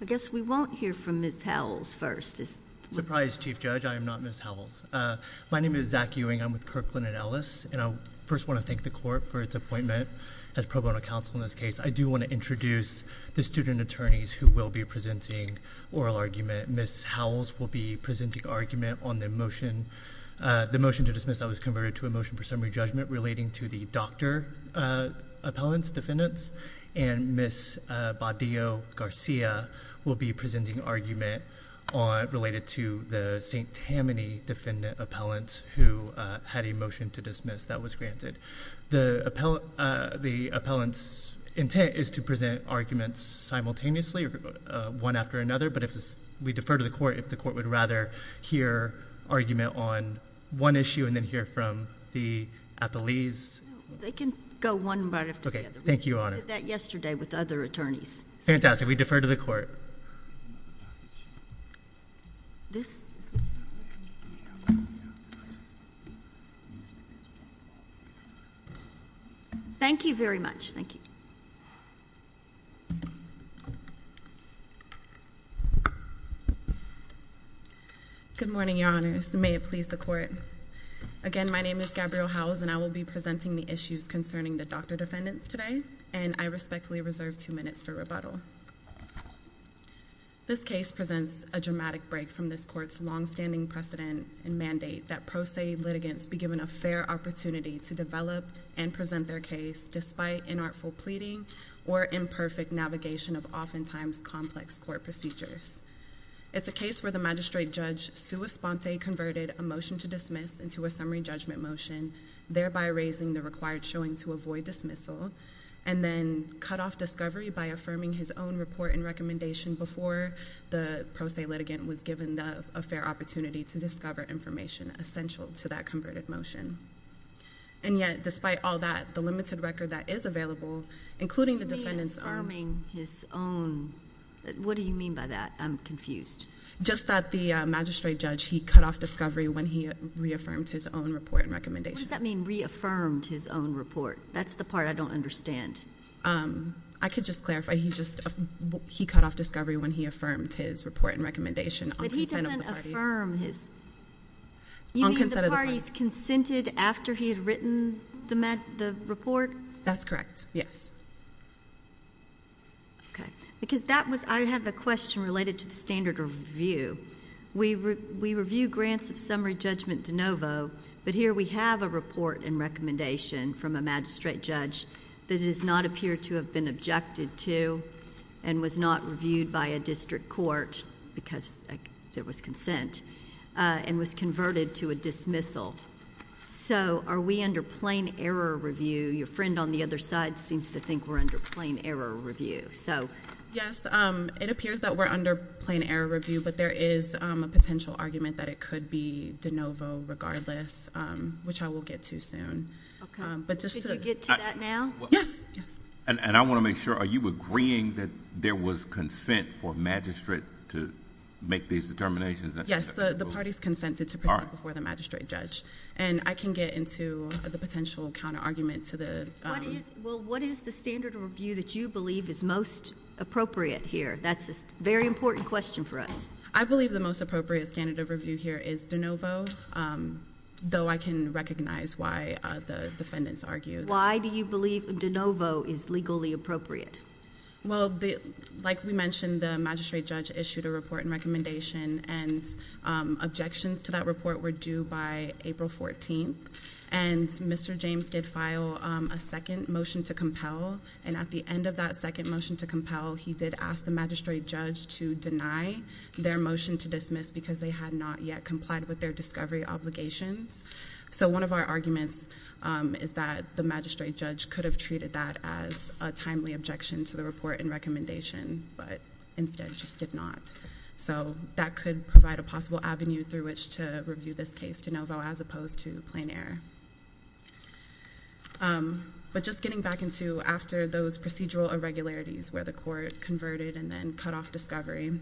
I guess we won't hear from Ms. Howells first, is that right? I apologize, Chief Judge. I am not Ms. Howells. My name is Zach Ewing. I'm with Kirkland and Ellis, and I first want to thank the court for its appointment as pro bono counsel in this case. I do want to introduce the student attorneys who will be presenting oral argument. Ms. Howells will be presenting argument on the motion to dismiss that was converted to a motion for summary judgment relating to the doctor appellants, defendants, and Ms. Badillo-Garcia will be presenting argument related to the St. Tammany defendant appellant who had a motion to dismiss that was granted. The appellant's intent is to present arguments simultaneously, one after another, but we defer to the court if the court would rather hear argument on one issue and then hear from the appellees. They can go one right after the other. Thank you, Your Honor. We did that yesterday with other attorneys. Fantastic. We defer to the court. Thank you very much. Good morning, Your Honors. May it please the court. Again, my name is Gabrielle Howells, and I will be presenting the issues concerning the doctor defendants today, and I respectfully reserve two minutes for rebuttal. This case presents a dramatic break from this court's longstanding precedent and mandate that pro se litigants be given a fair opportunity to develop and present their case despite inartful pleading or imperfect navigation of oftentimes complex court procedures. It's a case where the magistrate judge sua sponte converted a motion to dismiss into a summary judgment motion, thereby raising the required showing to avoid dismissal, and then cut off discovery by affirming his own report and recommendation before the pro se litigant was given a fair opportunity to discover information essential to that converted motion. And yet, despite all that, the limited record that is available, including the defendant's own... You mean affirming his own... What do you mean by that? I'm confused. Just that the magistrate judge, he cut off discovery when he reaffirmed his own report and recommendation. What does that mean, reaffirmed his own report? That's the part I don't understand. I could just clarify. He just... he cut off discovery when he affirmed his report and recommendation on consent of the parties. But he doesn't affirm his... On consent of the parties. You mean the parties consented after he had written the report? That's correct, yes. Okay. Because that was... I have a question related to the standard review. We review grants of summary judgment de novo, but here we have a report and recommendation from a magistrate judge that does not appear to have been objected to and was not reviewed by a district court because there was consent, and was converted to a dismissal. So are we under plain error review? Your friend on the other side seems to think we're under plain error review. Yes, it appears that we're under plain error review, but there is a potential argument that it could be de novo regardless, which I will get to soon. Okay. But just to... Could you get to that now? Yes. Yes. I want to make sure, are you agreeing that there was consent for a magistrate to make these determinations? Yes. The parties consented to present before the magistrate judge. I can get into the potential counter-argument to the... What is the standard review that you believe is most appropriate here? That's a very important question for us. I believe the most appropriate standard of review here is de novo, though I can recognize why the defendants argue... Why do you believe de novo is legally appropriate? Like we mentioned, the magistrate judge issued a report and recommendation, and objections to that report were due by April 14th. And Mr. James did file a second motion to compel, and at the end of that second motion to compel, he did ask the magistrate judge to deny their motion to dismiss because they had not yet complied with their discovery obligations. So one of our arguments is that the magistrate judge could have treated that as a timely objection to the report and recommendation, but instead just did not. So that could provide a possible avenue through which to review this case de novo as opposed to plain error. But just getting back into after those procedural irregularities where the court converted and then cut off discovery,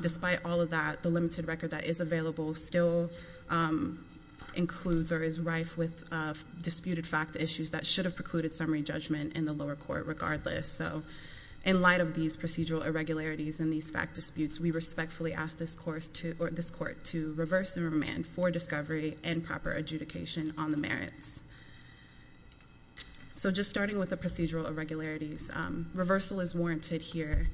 despite all of that, the limited record that is available still includes or is rife with disputed fact issues that should have precluded summary judgment in the lower court regardless. So in light of these procedural irregularities and these fact disputes, we respectfully ask this court to reverse and remand for discovery and proper adjudication on the merits. So just starting with the procedural irregularities, reversal is warranted here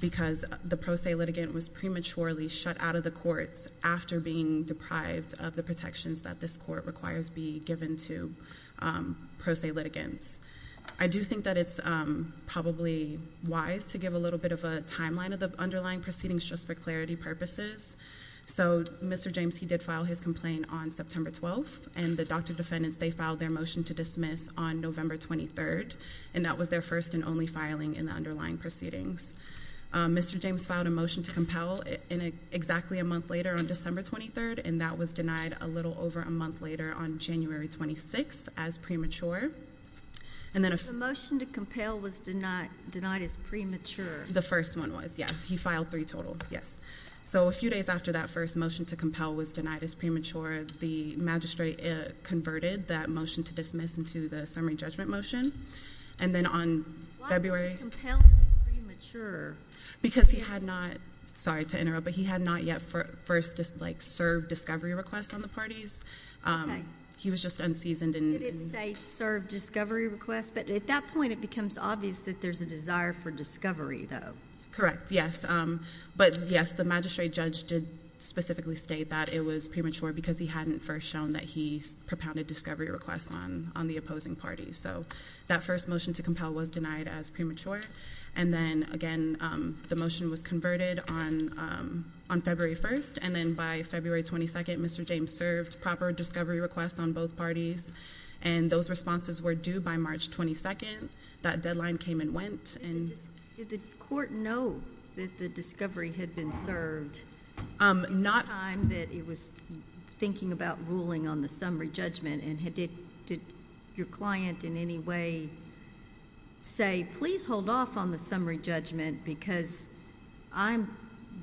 because the pro se litigant was prematurely shut out of the courts after being deprived of the protections that this court requires be given to pro se litigants. I do think that it's probably wise to give a little bit of a timeline of the underlying proceedings just for clarity purposes. So Mr. James, he did file his complaint on September 12th, and the doctor defendants, they filed their motion to dismiss on November 23rd, and that was their first and only filing in the underlying proceedings. Mr. James filed a motion to compel exactly a month later on December 23rd, and that was denied a little over a month later on January 26th as premature. And then a... The motion to compel was denied as premature. The first one was, yes. He filed three total, yes. So a few days after that first motion to compel was denied as premature, the magistrate converted that motion to dismiss into the summary judgment motion. And then on February... Why did he compel as premature? Because he had not... Sorry to interrupt, but he had not yet first served discovery requests on the parties. He was just unseasoned and... Did it say serve discovery requests? But at that point, it becomes obvious that there's a desire for discovery, though. Correct, yes. But yes, the magistrate judge did specifically state that it was premature because he hadn't first shown that he propounded discovery requests on the opposing parties. So that first motion to compel was denied as premature. And then, again, the motion was converted on February 1st. And then by February 22nd, Mr. James served proper discovery requests on both parties. And those responses were due by March 22nd. That deadline came and went. And just... Did the court know that the discovery had been served? Not... At the time that it was thinking about ruling on the summary judgment, and did your client in any way say, please hold off on the summary judgment because I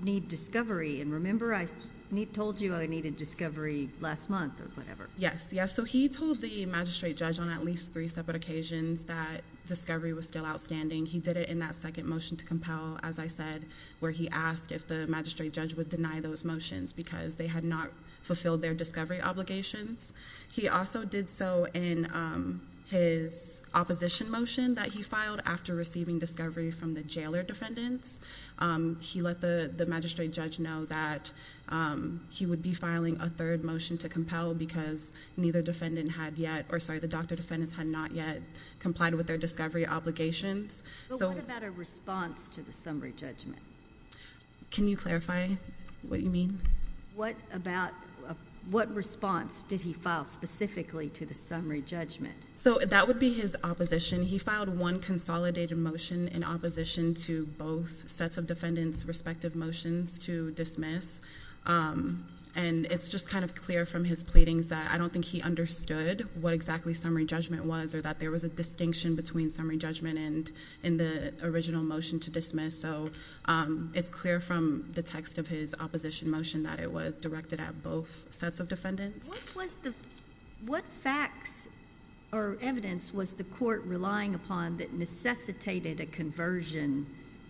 need discovery? And remember, I told you I needed discovery last month or whatever. Yes, yes. So he told the magistrate judge on at least three separate occasions that discovery was still outstanding. He did it in that second motion to compel, as I said, where he asked if the magistrate judge would deny those motions because they had not fulfilled their discovery obligations. He also did so in his opposition motion that he filed after receiving discovery from the jailer defendants. He let the magistrate judge know that he would be filing a third motion to compel because neither defendant had yet, or sorry, the doctor defendants had not yet complied with their discovery obligations. So... But what about a response to the summary judgment? Can you clarify what you mean? What about, what response did he file specifically to the summary judgment? So that would be his opposition. He filed one consolidated motion in opposition to both sets of defendants' respective motions to dismiss. And it's just kind of clear from his pleadings that I don't think he understood what exactly summary judgment was or that there was a distinction between summary judgment and in the original motion to dismiss. So it's clear from the text of his opposition motion that it was directed at both sets of defendants. What was the, what facts or evidence was the court relying upon that necessitated a conversion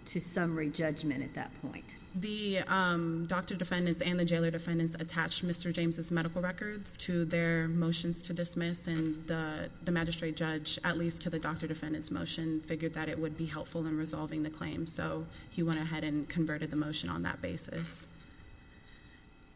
to summary judgment at that point? The doctor defendants and the jailer defendants attached Mr. James' medical records to their motions to dismiss and the magistrate judge, at least to the doctor defendants' motion, figured that it would be helpful in resolving the claim. So he went ahead and converted the motion on that basis.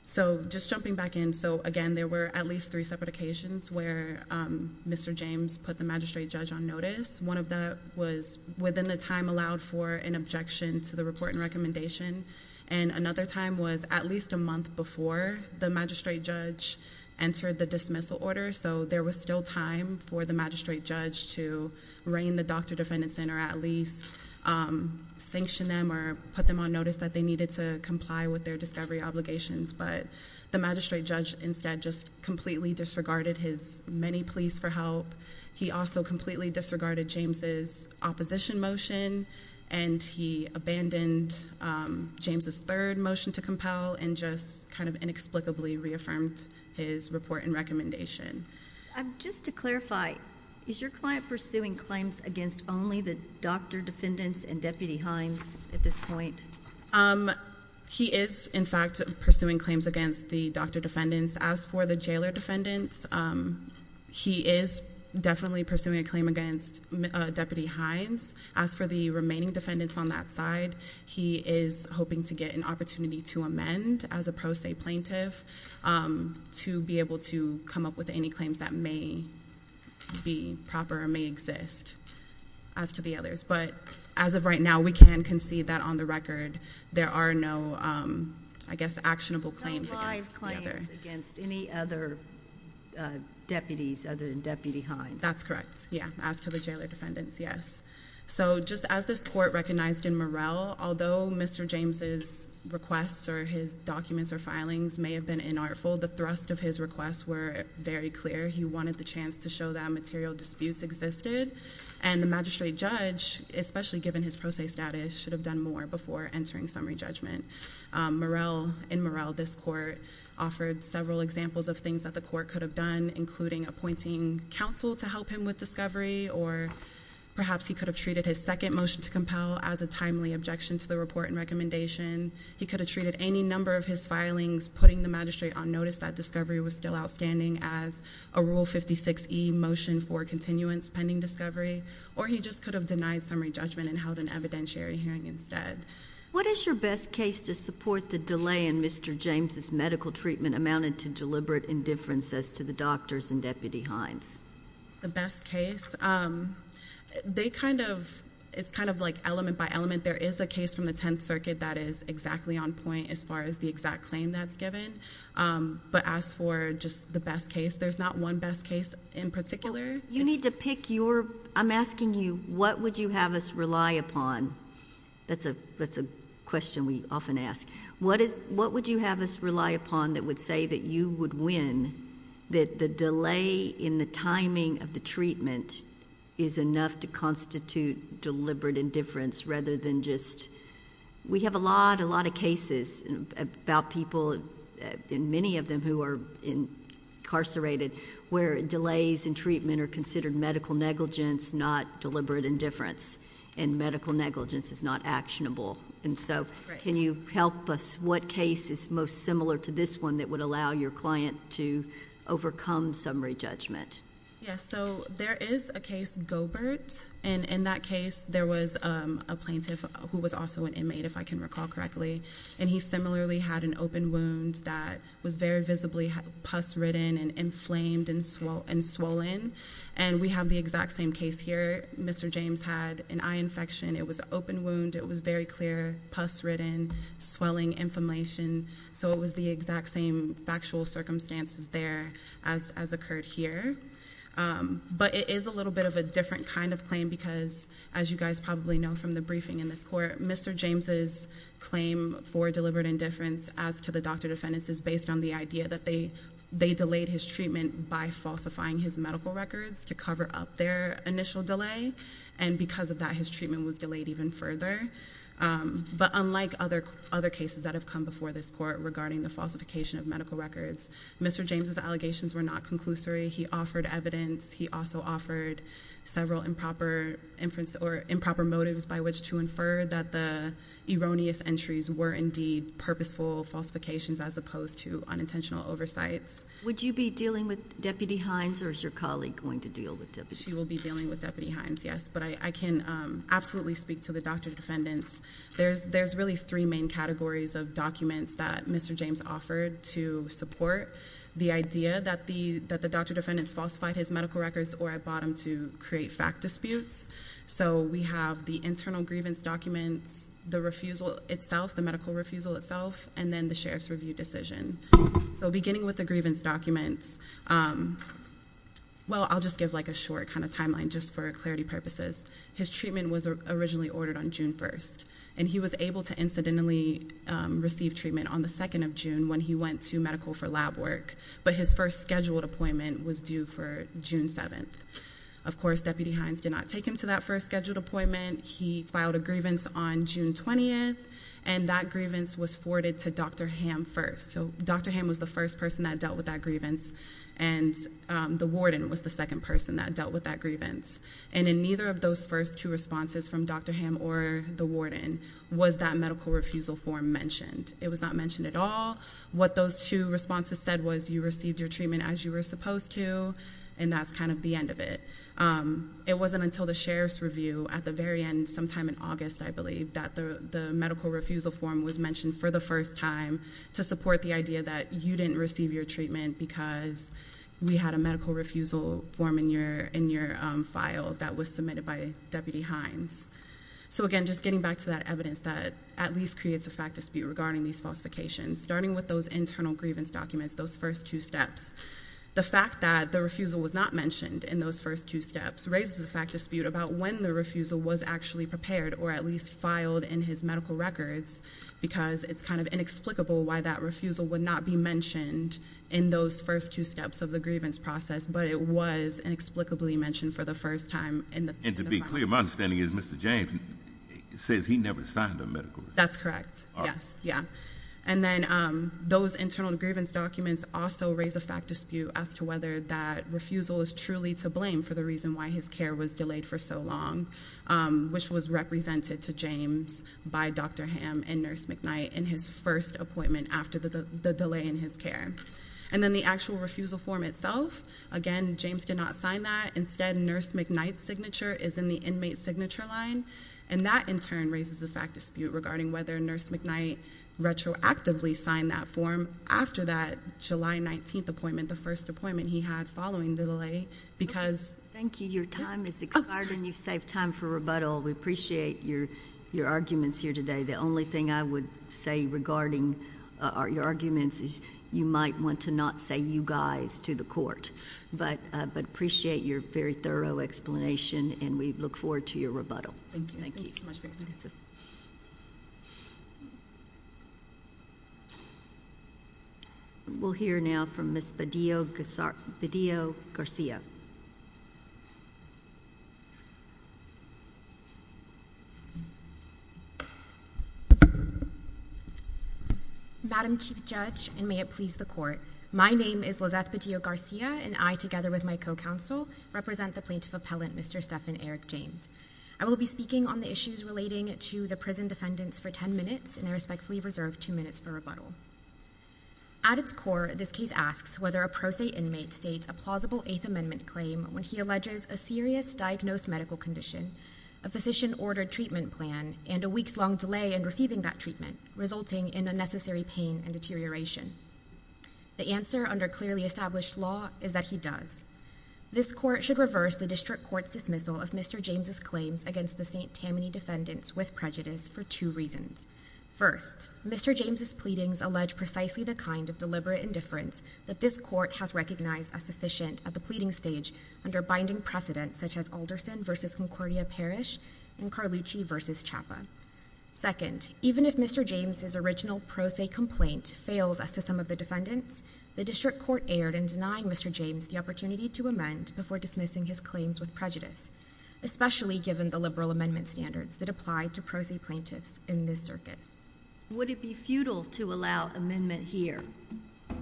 So just jumping back in, so again, there were at least three separate occasions where Mr. James put the magistrate judge on notice. One of that was within the time allowed for an objection to the report and recommendation. And another time was at least a month before the magistrate judge entered the dismissal order. So there was still time for the magistrate judge to reign the doctor defendants in or at least sanction them or put them on notice that they needed to comply with their discovery obligations. But the magistrate judge instead just completely disregarded his many pleas for help. He also completely disregarded James' opposition motion and he abandoned James' third motion to compel and just kind of inexplicably reaffirmed his report and recommendation. Just to clarify, is your client pursuing claims against only the doctor defendants and Deputy Hines at this point? He is, in fact, pursuing claims against the doctor defendants. As for the jailer defendants, he is definitely pursuing a claim against Deputy Hines. As for the remaining defendants on that side, he is hoping to get an opportunity to amend as a pro se plaintiff to be able to come up with any claims that may be proper or may exist as to the others. But as of right now, we can concede that on the record there are no, I guess, actionable claims against the other. No live claims against any other deputies other than Deputy Hines? That's correct. Yeah. As to the jailer defendants, yes. So just as this court recognized in Morrell, although Mr. James' requests or his documents or filings may have been inartful, the thrust of his requests were very clear. He wanted the chance to show that material disputes existed and the magistrate judge, especially given his pro se status, should have done more before entering summary judgment. In Morrell, this court offered several examples of things that the court could have done, including appointing counsel to help him with discovery, or perhaps he could have treated his second motion to compel as a timely objection to the report and recommendation. He could have treated any number of his filings, putting the magistrate on notice that discovery was still outstanding as a Rule 56E motion for continuance pending discovery, or he just could have denied summary judgment and held an evidentiary hearing instead. What is your best case to support the delay in Mr. James' medical treatment amounted to by the doctors and Deputy Hines? The best case? They kind of... it's kind of like element by element. There is a case from the Tenth Circuit that is exactly on point as far as the exact claim that's given, but as for just the best case, there's not one best case in particular. You need to pick your... I'm asking you, what would you have us rely upon? That's a question we often ask. What would you have us rely upon that would say that you would win, that the delay in the timing of the treatment is enough to constitute deliberate indifference rather than just... We have a lot of cases about people, and many of them who are incarcerated, where delays in treatment are considered medical negligence, not deliberate indifference, and medical negligence is not actionable. Right. Can you help us? What case is most similar to this one that would allow your client to overcome summary judgment? Yes. So, there is a case, Gobert, and in that case, there was a plaintiff who was also an inmate, if I can recall correctly, and he similarly had an open wound that was very visibly pus ridden and inflamed and swollen, and we have the exact same case here. Mr. James had an eye infection. It was an open wound. It was very clear, pus ridden, swelling, inflammation, so it was the exact same factual circumstances there as occurred here, but it is a little bit of a different kind of claim because, as you guys probably know from the briefing in this court, Mr. James's claim for deliberate indifference as to the doctor defendants is based on the idea that they delayed his treatment by falsifying his medical records to cover up their initial delay, and because of that, his treatment was delayed even further, but unlike other cases that have come before this court regarding the falsification of medical records, Mr. James's allegations were not conclusory. He offered evidence. He also offered several improper motives by which to infer that the erroneous entries were indeed purposeful falsifications as opposed to unintentional oversights. Would you be dealing with Deputy Hines, or is your colleague going to deal with Deputy Hines? She will be dealing with Deputy Hines, yes, but I can absolutely speak to the doctor defendants. There's really three main categories of documents that Mr. James offered to support the idea that the doctor defendants falsified his medical records or at bottom to create fact disputes, so we have the internal grievance documents, the refusal itself, the medical refusal itself, and then the sheriff's review decision, so beginning with the grievance documents, well, I'll just give like a short kind of timeline just for clarity purposes. His treatment was originally ordered on June 1st, and he was able to incidentally receive treatment on the 2nd of June when he went to medical for lab work, but his first scheduled appointment was due for June 7th. Of course, Deputy Hines did not take him to that first scheduled appointment. He filed a grievance on June 20th, and that grievance was forwarded to Dr. Ham first, so Dr. Ham was the first person that dealt with that grievance, and the warden was the second person that dealt with that grievance, and in neither of those first two responses from Dr. Ham or the warden was that medical refusal form mentioned. It was not mentioned at all. What those two responses said was you received your treatment as you were supposed to, and that's kind of the end of it. It wasn't until the sheriff's review at the very end sometime in August, I believe, that the medical refusal form was mentioned for the first time to support the idea that you didn't receive your treatment because we had a medical refusal form in your file that was submitted by Deputy Hines. So again, just getting back to that evidence that at least creates a fact dispute regarding these falsifications, starting with those internal grievance documents, those first two steps. The fact that the refusal was not mentioned in those first two steps raises a fact dispute about when the refusal was actually prepared, or at least filed in his medical records, because it's kind of inexplicable why that refusal would not be mentioned in those first two steps of the grievance process, but it was inexplicably mentioned for the first time in the file. And to be clear, my understanding is Mr. James says he never signed a medical... That's correct. Yes. Yeah. And then those internal grievance documents also raise a fact dispute as to whether that refusal is truly to blame for the reason why his care was delayed for so long, which was represented to James by Dr. Hamm and Nurse McKnight in his first appointment after the delay in his care. And then the actual refusal form itself, again, James did not sign that. Instead, Nurse McKnight's signature is in the inmate signature line, and that in turn raises a fact dispute regarding whether Nurse McKnight retroactively signed that form after that July 19th appointment, the first appointment he had following the delay, because... Thank you. Your time is expired, and you've saved time for rebuttal. We appreciate your arguments here today. The only thing I would say regarding your arguments is you might want to not say you guys to the court, but appreciate your very thorough explanation, and we look forward to your rebuttal. Thank you. Thank you. Thank you so much, ma'am. We'll hear now from Ms. Bedillo-Garcia. Madam Chief Judge, and may it please the Court, my name is Lizeth Bedillo-Garcia, and I, together with my co-counsel, represent the plaintiff appellant, Mr. Stephan Eric James. I will be speaking on the issues relating to the prison defendants for 10 minutes, and I respectfully reserve two minutes for rebuttal. At its core, this case asks whether a pro se inmate states a plausible Eighth Amendment claim when he alleges a serious diagnosed medical condition, a physician-ordered treatment plan, and a weeks-long delay in receiving that treatment, resulting in unnecessary pain and deterioration. The answer, under clearly established law, is that he does. This Court should reverse the District Court's dismissal of Mr. James' claims against the St. Tammany defendants with prejudice for two reasons. First, Mr. James' pleadings allege precisely the kind of deliberate indifference that this Court has recognized as sufficient at the pleading stage under binding precedents such as Alderson v. Concordia Parish and Carlucci v. Chapa. Second, even if Mr. James' original pro se complaint fails as to some of the defendants, the District Court erred in denying Mr. James the opportunity to amend before dismissing his claims with prejudice, especially given the liberal amendment standards that apply to pro se plaintiffs in this circuit. Would it be futile to allow amendment here?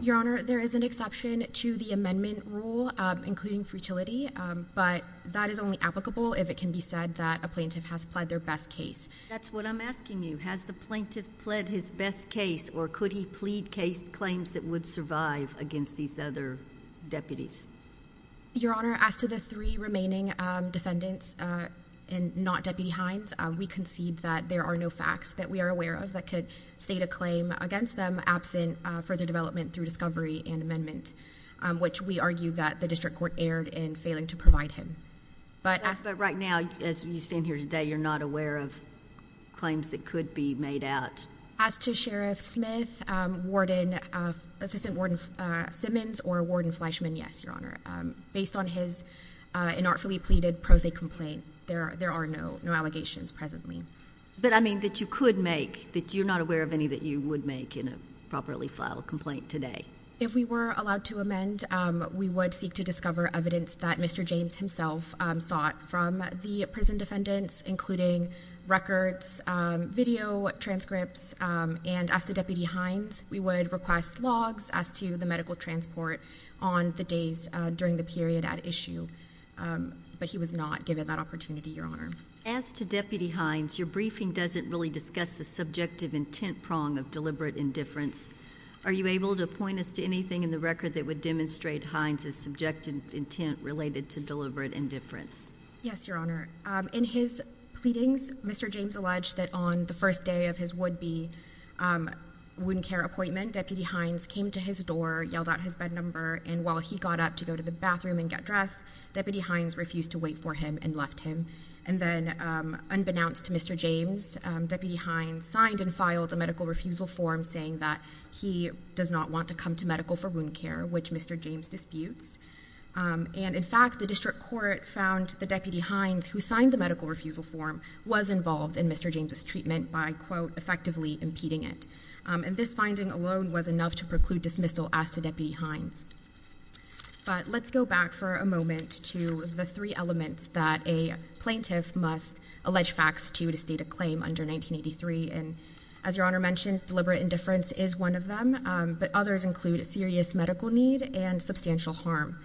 Your Honor, there is an exception to the amendment rule, including futility, but that is only applicable if it can be said that a plaintiff has pled their best case. That's what I'm asking you. Has the plaintiff pled his best case, or could he plead case claims that would survive against these other deputies? Your Honor, as to the three remaining defendants and not Deputy Hines, we concede that there are no facts that we are aware of that could state a claim against them absent further development through discovery and amendment, which we argue that the District Court erred in failing to provide him. But right now, as you stand here today, you're not aware of claims that could be made out? As to Sheriff Smith, Assistant Warden Simmons, or Warden Fleischman, yes, Your Honor. Based on his inartfully pleaded pro se complaint, there are no allegations presently. But, I mean, that you could make, that you're not aware of any that you would make in a properly filed complaint today? If we were allowed to amend, we would seek to discover evidence that Mr. James himself sought from the prison defendants, including records, video transcripts, and as to Deputy Hines, we would request logs as to the medical transport on the days during the period at issue. But he was not given that opportunity, Your Honor. As to Deputy Hines, your briefing doesn't really discuss the subjective intent prong of deliberate indifference. Are you able to point us to anything in the record that would demonstrate Hines' subjective intent related to deliberate indifference? Yes, Your Honor. In his pleadings, Mr. James alleged that on the first day of his would-be wound care appointment, Deputy Hines came to his door, yelled out his bed number, and while he got up to go to the bathroom and get dressed, Deputy Hines refused to wait for him and left him. And then, unbeknownst to Mr. James, Deputy Hines signed and filed a medical refusal form saying that he does not want to come to medical for wound care, which Mr. James disputes. And in fact, the district court found that Deputy Hines, who signed the medical refusal form, was involved in Mr. James' treatment by, quote, effectively impeding it. And this finding alone was enough to preclude dismissal as to Deputy Hines. But let's go back for a moment to the three elements that a plaintiff must allege facts to to state a claim under 1983. And as Your Honor mentioned, deliberate indifference is one of them, but others include a serious medical need and substantial harm.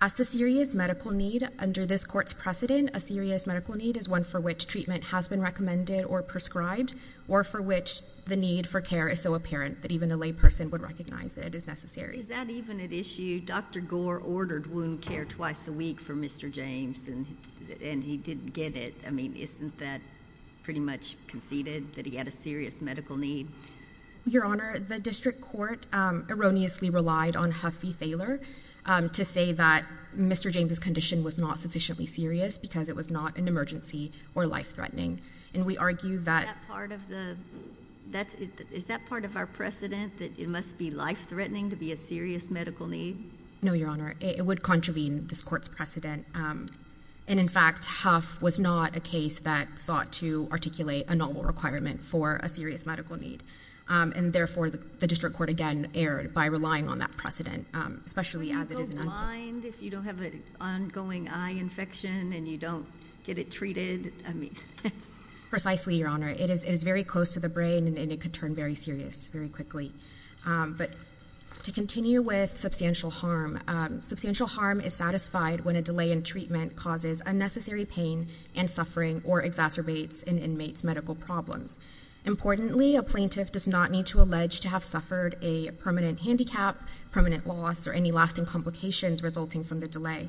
As to serious medical need, under this court's precedent, a serious medical need is one for which treatment has been recommended or prescribed, or for which the need for care is so apparent that even a layperson would recognize that it is necessary. Is that even at issue? Dr. Gore ordered wound care twice a week for Mr. James, and he didn't get it. I mean, isn't that pretty much conceded, that he had a serious medical need? Your Honor, the district court erroneously relied on Huff v. Thaler to say that Mr. James' condition was not sufficiently serious because it was not an emergency or life-threatening. And we argue that— Is that part of our precedent, that it must be life-threatening to be a serious medical need? No, Your Honor. It would contravene this court's precedent. And in fact, Huff was not a case that sought to articulate a novel requirement for a serious medical need. And therefore, the district court, again, erred by relying on that precedent, especially as it is an— Would you go blind if you don't have an ongoing eye infection and you don't get it treated? I mean, yes. Precisely, Your Honor. It is very close to the brain, and it could turn very serious very quickly. But to continue with substantial harm, substantial harm is satisfied when a delay in treatment causes unnecessary pain and suffering or exacerbates an inmate's medical problems. Importantly, a plaintiff does not need to allege to have suffered a permanent handicap, permanent loss, or any lasting complications resulting from the delay.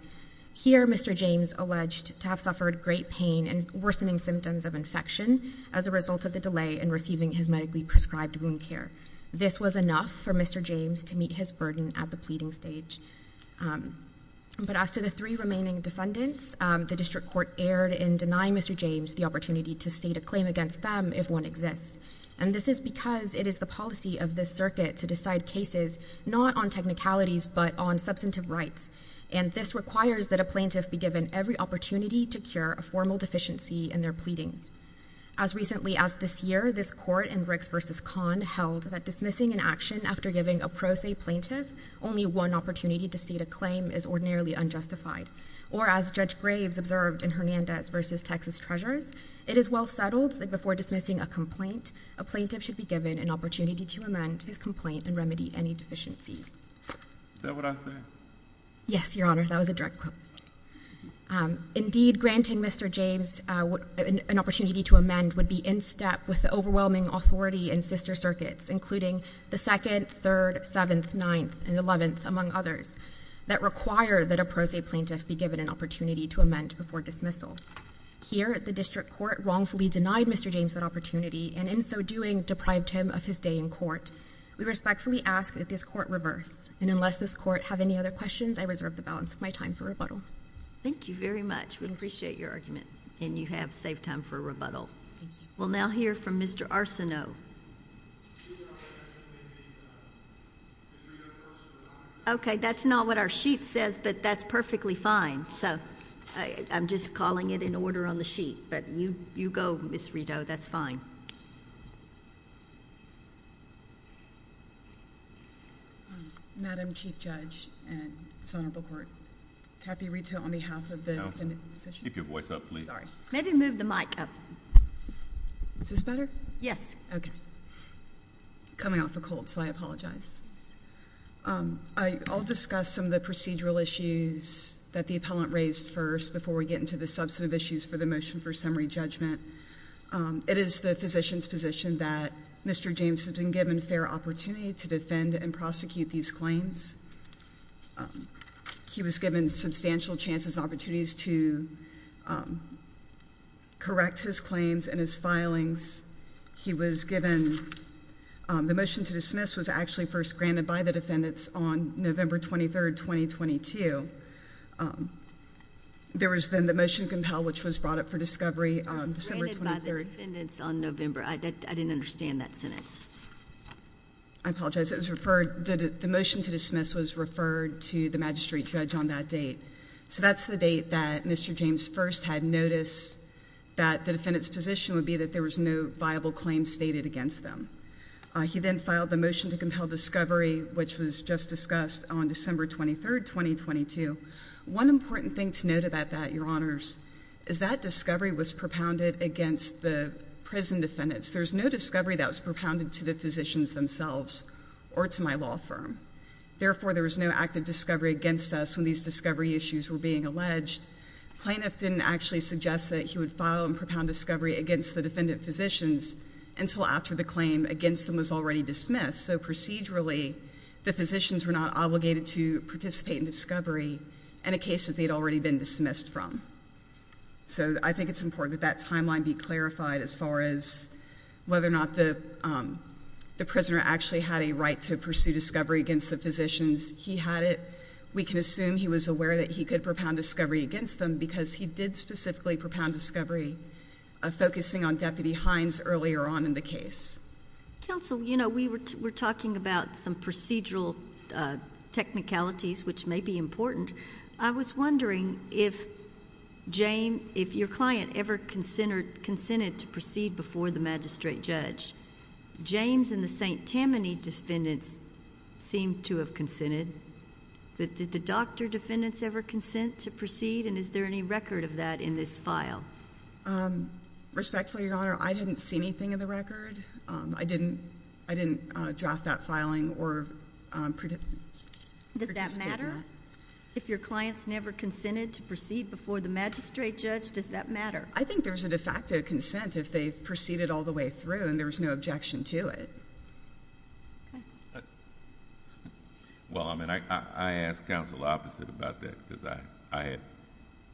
Here, Mr. James alleged to have suffered great pain and worsening symptoms of infection as a result of the delay in receiving his medically prescribed wound care. This was enough for Mr. James to meet his burden at the pleading stage. But as to the three remaining defendants, the district court erred in denying Mr. James the opportunity to state a claim against them if one exists. And this is because it is the policy of this circuit to decide cases not on technicalities but on substantive rights. And this requires that a plaintiff be given every opportunity to cure a formal deficiency in their pleadings. As recently as this year, this court in Ricks v. Kahn held that dismissing an action after giving a pro se plaintiff only one opportunity to state a claim is ordinarily unjustified. Or as Judge Graves observed in Hernandez v. Texas Treasures, it is well settled that before dismissing a complaint, a plaintiff should be given an opportunity to amend his complaint and remedy any deficiencies. Is that what I said? Yes, Your Honor. That was a direct quote. Indeed, granting Mr. James an opportunity to amend would be in step with the overwhelming authority in sister circuits, including the 2nd, 3rd, 7th, 9th, and 11th, among others, that require that a pro se plaintiff be given an opportunity to amend before dismissal. Here, the district court wrongfully denied Mr. James that opportunity and in so doing deprived him of his day in court. We respectfully ask that this court reverse. And unless this court have any other questions, I reserve the balance of my time for rebuttal. Thank you very much. We appreciate your argument and you have saved time for a rebuttal. We'll now hear from Mr. Arsenault. Okay, that's not what our sheet says, but that's perfectly fine, so I'm just calling it in order on the sheet, but you go, Ms. Rito. That's fine. Madam Chief Judge and Senator Bookwort, Kathy Rito on behalf of the defendant's position. Keep your voice up, please. Maybe move the mic up. Is this better? Yes. Okay. Coming off a cold, so I apologize. I'll discuss some of the procedural issues that the appellant raised first before we get into the substantive issues for the motion for summary judgment. It is the physician's position that Mr. James has been given fair opportunity to defend and prosecute these claims. He was given substantial chances and opportunities to correct his claims and his filings. He was given, the motion to dismiss was actually first granted by the defendants on November 23rd, 2022. There was then the motion to compel, which was brought up for discovery on December 23rd. It was granted by the defendants on November. I didn't understand that sentence. I apologize. It was referred, the motion to dismiss was referred to the magistrate judge on that date. So that's the date that Mr. James first had noticed that the defendant's position would be that there was no viable claim stated against them. He then filed the motion to compel discovery, which was just discussed on December 23rd, 2022. One important thing to note about that, your honors, is that discovery was propounded against the prison defendants. There's no discovery that was propounded to the physicians themselves or to my law firm. Therefore, there was no active discovery against us when these discovery issues were being alleged. Plaintiff didn't actually suggest that he would file and propound discovery against the defendant physicians until after the claim against them was already dismissed. So procedurally, the physicians were not obligated to participate in discovery in a case that they'd already been dismissed from. So I think it's important that that timeline be clarified as far as whether or not the prisoner actually had a right to pursue discovery against the physicians. He had it. We can assume he was aware that he could propound discovery against them because he did specifically propound discovery, focusing on Deputy Hines earlier on in the case. Counsel, you know, we were talking about some procedural technicalities, which may be important. I was wondering if your client ever consented to proceed before the magistrate judge. James and the St. Tammany defendants seemed to have consented. Did the doctor defendants ever consent to proceed, and is there any record of that in this file? Respectfully, Your Honor, I didn't see anything in the record. I didn't draft that filing or participate in it. Does that matter? If your client's never consented to proceed before the magistrate judge, does that matter? I think there's a de facto consent if they've proceeded all the way through and there's no objection to it. Okay. Well, I mean, I asked counsel the opposite about that because I had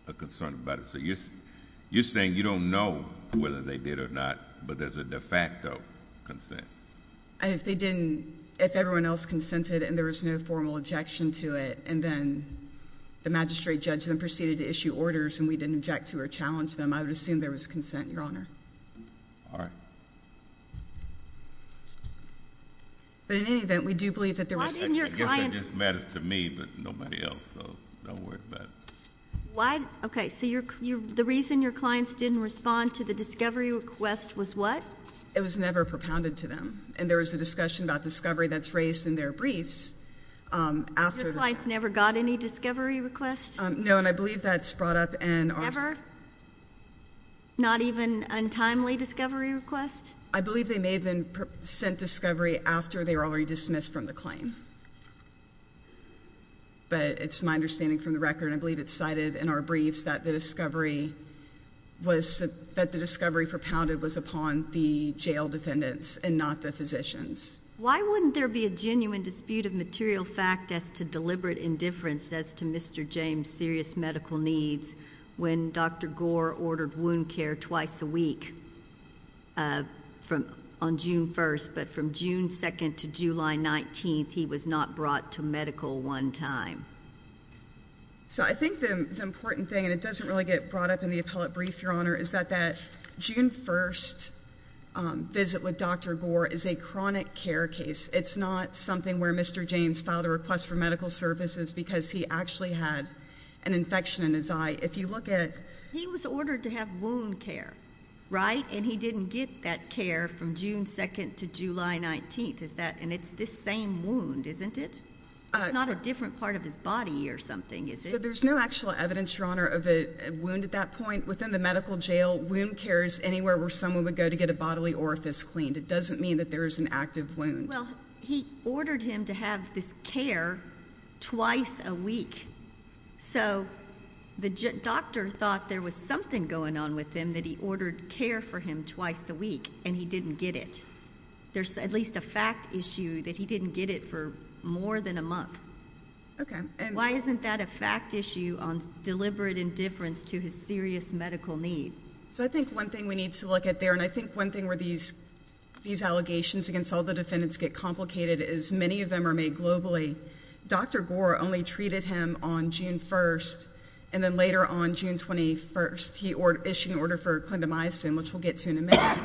a concern about it. So you're saying you don't know whether they did or not, but there's a de facto consent? If they didn't, if everyone else consented and there was no formal objection to it, and then the magistrate judge then proceeded to issue orders and we didn't object to or challenge them, I would assume there was consent, Your Honor. All right. But in any event, we do believe that there was consent. Why didn't your client— I guess that just matters to me, but nobody else, so don't worry about it. Why? Okay. So the reason your clients didn't respond to the discovery request was what? It was never propounded to them. And there was a discussion about discovery that's raised in their briefs after the— Your clients never got any discovery request? No. And I believe that's brought up in our— Never? Not even untimely discovery request? I believe they may have been sent discovery after they were already dismissed from the claim. But it's my understanding from the record, and I believe it's cited in our briefs, that the discovery propounded was upon the jail defendants and not the physicians. Why wouldn't there be a genuine dispute of material fact as to deliberate indifference as to Mr. James' serious medical needs when Dr. Gore ordered wound care twice a week on June 1st, but from June 2nd to July 19th, he was not brought to medical one time? So I think the important thing, and it doesn't really get brought up in the appellate brief, Your Honor, is that that June 1st visit with Dr. Gore is a chronic care case. It's not something where Mr. James filed a request for medical services because he actually had an infection in his eye. If you look at— But he was ordered to have wound care, right, and he didn't get that care from June 2nd to July 19th, is that—and it's this same wound, isn't it? It's not a different part of his body or something, is it? So there's no actual evidence, Your Honor, of a wound at that point. Within the medical jail, wound care is anywhere where someone would go to get a bodily orifice cleaned. It doesn't mean that there is an active wound. Well, he ordered him to have this care twice a week. So the doctor thought there was something going on with him, that he ordered care for him twice a week, and he didn't get it. There's at least a fact issue that he didn't get it for more than a month. Why isn't that a fact issue on deliberate indifference to his serious medical need? So I think one thing we need to look at there, and I think one thing where these allegations against all the defendants get complicated is many of them are made globally. Dr. Gore only treated him on June 1st, and then later on June 21st, he issued an order for clindamycin, which we'll get to in a minute,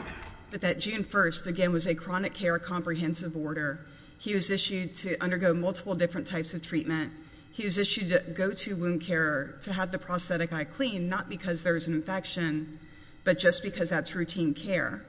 but that June 1st, again, was a chronic care comprehensive order. He was issued to undergo multiple different types of treatment. He was issued to go to wound care to have the prosthetic eye cleaned, not because there was an infection, but just because that's routine care.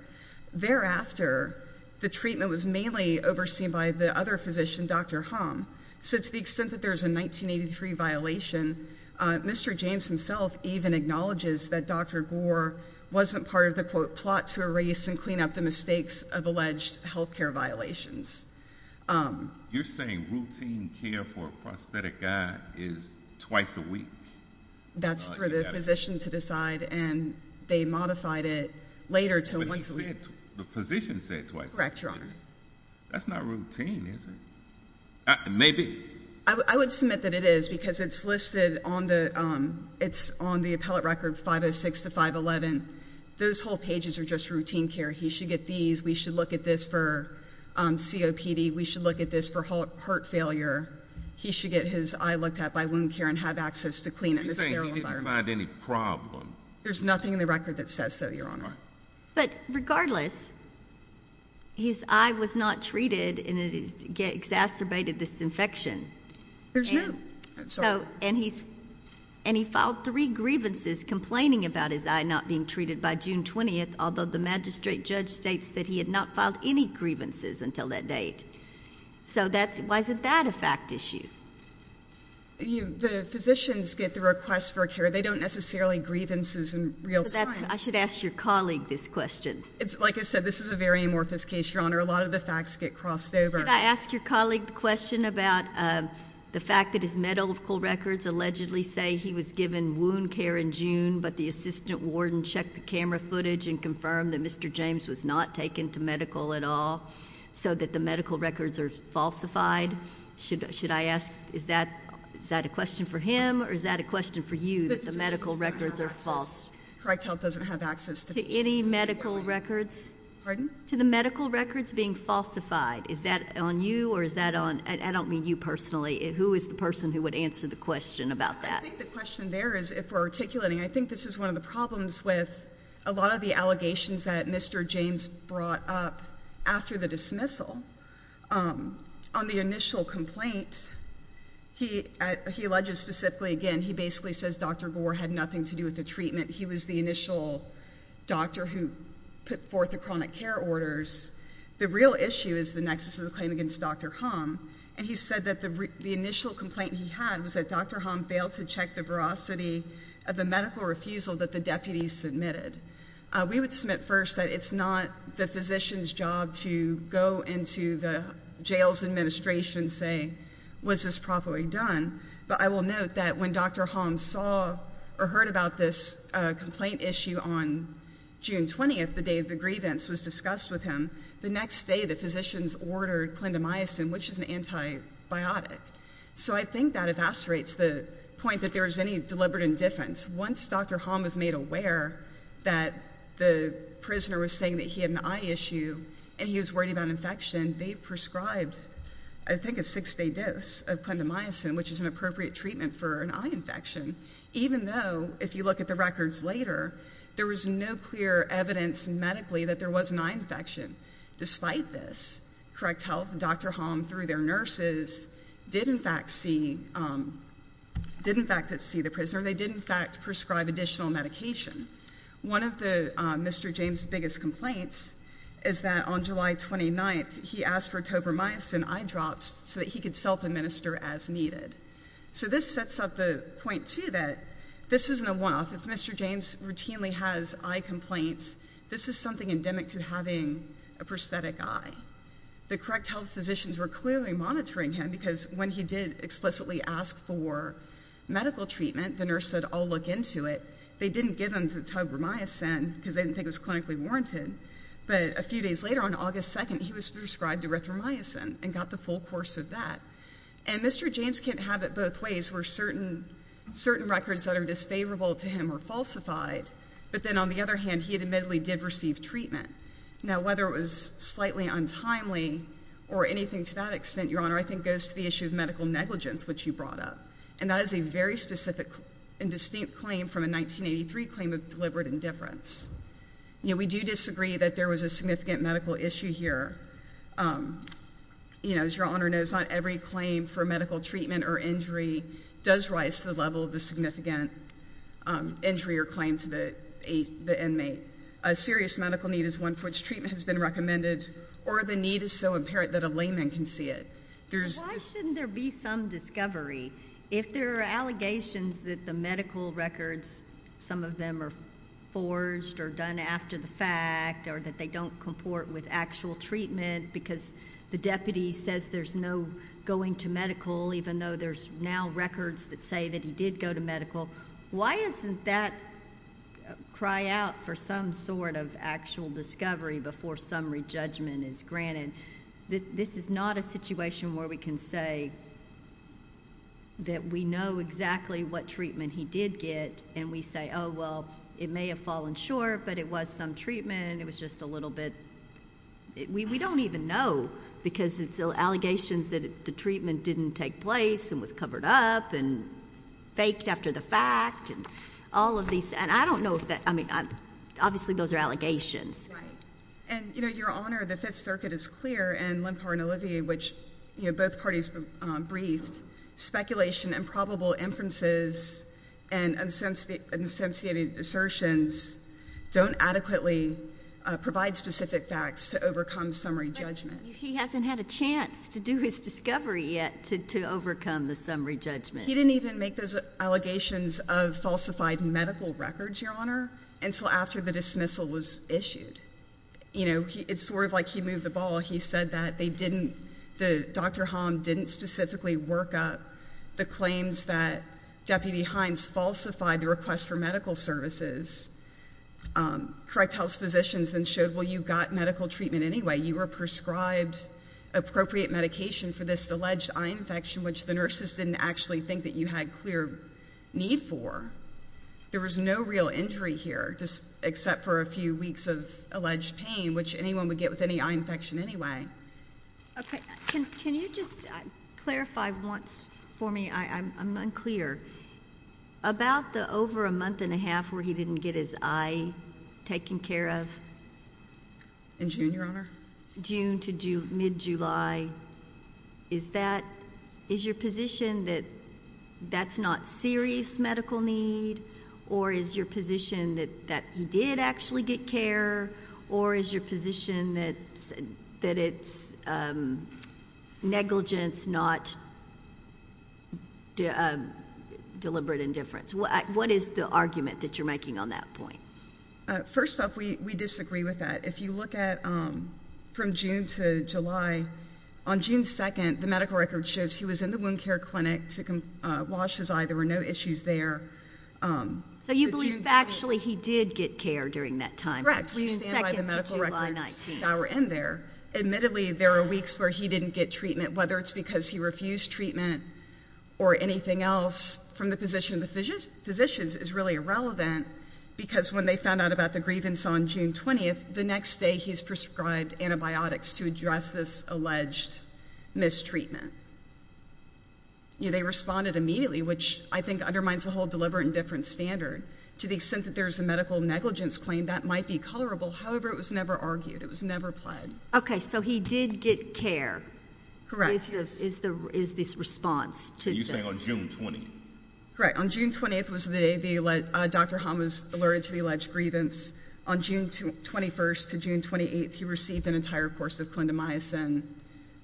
Thereafter, the treatment was mainly overseen by the other physician, Dr. Hom. So to the extent that there's a 1983 violation, Mr. James himself even acknowledges that Dr. Gore wasn't part of the, quote, plot to erase and clean up the mistakes of alleged healthcare violations. You're saying routine care for a prosthetic eye is twice a week? That's for the physician to decide, and they modified it later to once a week. The physician said twice a week. Correct, Your Honor. That's not routine, is it? Maybe. I would submit that it is, because it's listed on the appellate record 506 to 511. Those whole pages are just routine care. He should get these. We should look at this for COPD. We should look at this for heart failure. He should get his eye looked at by wound care and have access to clean it in a sterile environment. You're saying he didn't find any problem? There's nothing in the record that says so, Your Honor. But regardless, his eye was not treated, and it exacerbated this infection. There's no... And he filed three grievances complaining about his eye not being treated by June 20th, although the magistrate judge states that he had not filed any grievances until that date. So why isn't that a fact issue? The physicians get the request for care. They don't necessarily grievances in real time. I should ask your colleague this question. Like I said, this is a very amorphous case, Your Honor. A lot of the facts get crossed over. Can I ask your colleague the question about the fact that his medical records allegedly say he was given wound care in June, but the assistant warden checked the camera footage and confirmed that Mr. James was not taken to medical at all, so that the medical records are falsified? Should I ask, is that a question for him, or is that a question for you, that the medical records are false? The physician doesn't have access. Correct Health doesn't have access to... To any medical records? Pardon? To the medical records being falsified. Is that on you, or is that on... I don't mean you personally. Who is the person who would answer the question about that? I think the question there is, if we're articulating, I think this is one of the problems with a lot of the allegations that Mr. James brought up after the dismissal. On the initial complaint, he alleges specifically, again, he basically says Dr. Gore had nothing to do with the treatment. He was the initial doctor who put forth the chronic care orders. The real issue is the nexus of the claim against Dr. Hom, and he said that the initial complaint he had was that Dr. Hom failed to check the veracity of the medical refusal that the deputies submitted. We would submit first that it's not the physician's job to go into the jail's administration and say, was this properly done? But I will note that when Dr. Hom saw or heard about this complaint issue on June 20th, the day of the grievance was discussed with him, the next day the physicians ordered clindamycin, which is an antibiotic. So I think that evascerates the point that there is any deliberate indifference. Once Dr. Hom was made aware that the prisoner was saying that he had an eye issue and he was worried about infection, they prescribed, I think, a six-day dose of clindamycin, which is an appropriate treatment for an eye infection, even though, if you look at the records later, there was no clear evidence medically that there was an eye infection. Despite this, Correct Health and Dr. Hom, through their nurses, did in fact see the prisoner. They did, in fact, prescribe additional medication. One of Mr. James' biggest complaints is that on July 29th, he asked for topramycin eye drops so that he could self-administer as needed. So this sets up the point, too, that this isn't a one-off. If Mr. James routinely has eye complaints, this is something endemic to having a prosthetic eye. The Correct Health physicians were clearly monitoring him because when he did explicitly ask for medical treatment, the nurse said, I'll look into it. They didn't give him topramycin because they didn't think it was clinically warranted. But a few days later, on August 2nd, he was prescribed erythromycin and got the full course of that. And Mr. James can't have it both ways where certain records that are disfavorable to him are falsified. But then, on the other hand, he admittedly did receive treatment. Now, whether it was slightly untimely or anything to that extent, Your Honor, I think goes to the issue of medical negligence, which you brought up. And that is a very specific and distinct claim from a 1983 claim of deliberate indifference. We do disagree that there was a significant medical issue here. As Your Honor knows, not every claim for medical treatment or injury does rise to the level of the significant injury or claim to the inmate. A serious medical need is one for which treatment has been recommended, or the need is so apparent that a layman can see it. But why shouldn't there be some discovery? If there are allegations that the medical records, some of them are forged or done after the fact, or that they don't comport with actual treatment because the deputy says there's no going to medical, even though there's now records that say that he did go to medical, why isn't that cry out for some sort of actual discovery before summary judgment is granted? This is not a situation where we can say that we know exactly what treatment he did get and we say, oh, well, it may have fallen short, but it was some treatment, it was just a little bit, we don't even know because it's allegations that the treatment didn't take place and was covered up and faked after the fact and all of these, and I don't know, I mean, obviously those are allegations. Right. And, you know, Your Honor, the Fifth Circuit is clear, and Lempar and Olivier, which both parties briefed, speculation and probable inferences and associated assertions don't adequately provide specific facts to overcome summary judgment. He hasn't had a chance to do his discovery yet to overcome the summary judgment. He didn't even make those allegations of falsified medical records, Your Honor, until after the dismissal was issued. You know, it's sort of like he moved the ball. He said that they didn't, that Dr. Holland didn't specifically work up the claims that Deputy Hines falsified the request for medical services. Correct Health Physicians then showed, well, you got medical treatment anyway. You were prescribed appropriate medication for this alleged eye infection, which the nurses didn't actually think that you had clear need for. There was no real injury here, except for a few weeks of alleged pain, which anyone would get with any eye infection anyway. Okay. Can you just clarify once for me, I'm unclear, about the over a month and a half where he didn't get his eye taken care of? In June, Your Honor. June to mid-July. Is that, is your position that that's not serious medical need? Or is your position that he did actually get care? Or is your position that it's negligence, not deliberate indifference? What is the argument that you're making on that point? First off, we disagree with that. If you look at from June to July, on June 2nd, the medical record shows he was in the wound care clinic to wash his eye. There were no issues there. So you believe actually he did get care during that time? Correct. We stand by the medical records that were in there. Admittedly, there are weeks where he didn't get treatment, whether it's because he refused treatment or anything else from the position of the physicians is really irrelevant, because when they found out about the grievance on June 20th, the next day he's prescribed antibiotics to address this alleged mistreatment. They responded immediately, which I think undermines the whole deliberate indifference standard. To the extent that there's a medical negligence claim, that might be colorable, however, it was never argued. It was never pled. Okay. So he did get care. Correct. Is this response to that? You're saying on June 20th? Correct. On June 20th was the day Dr. Hahn was alerted to the alleged grievance. On June 21st to June 28th, he received an entire course of clindamycin,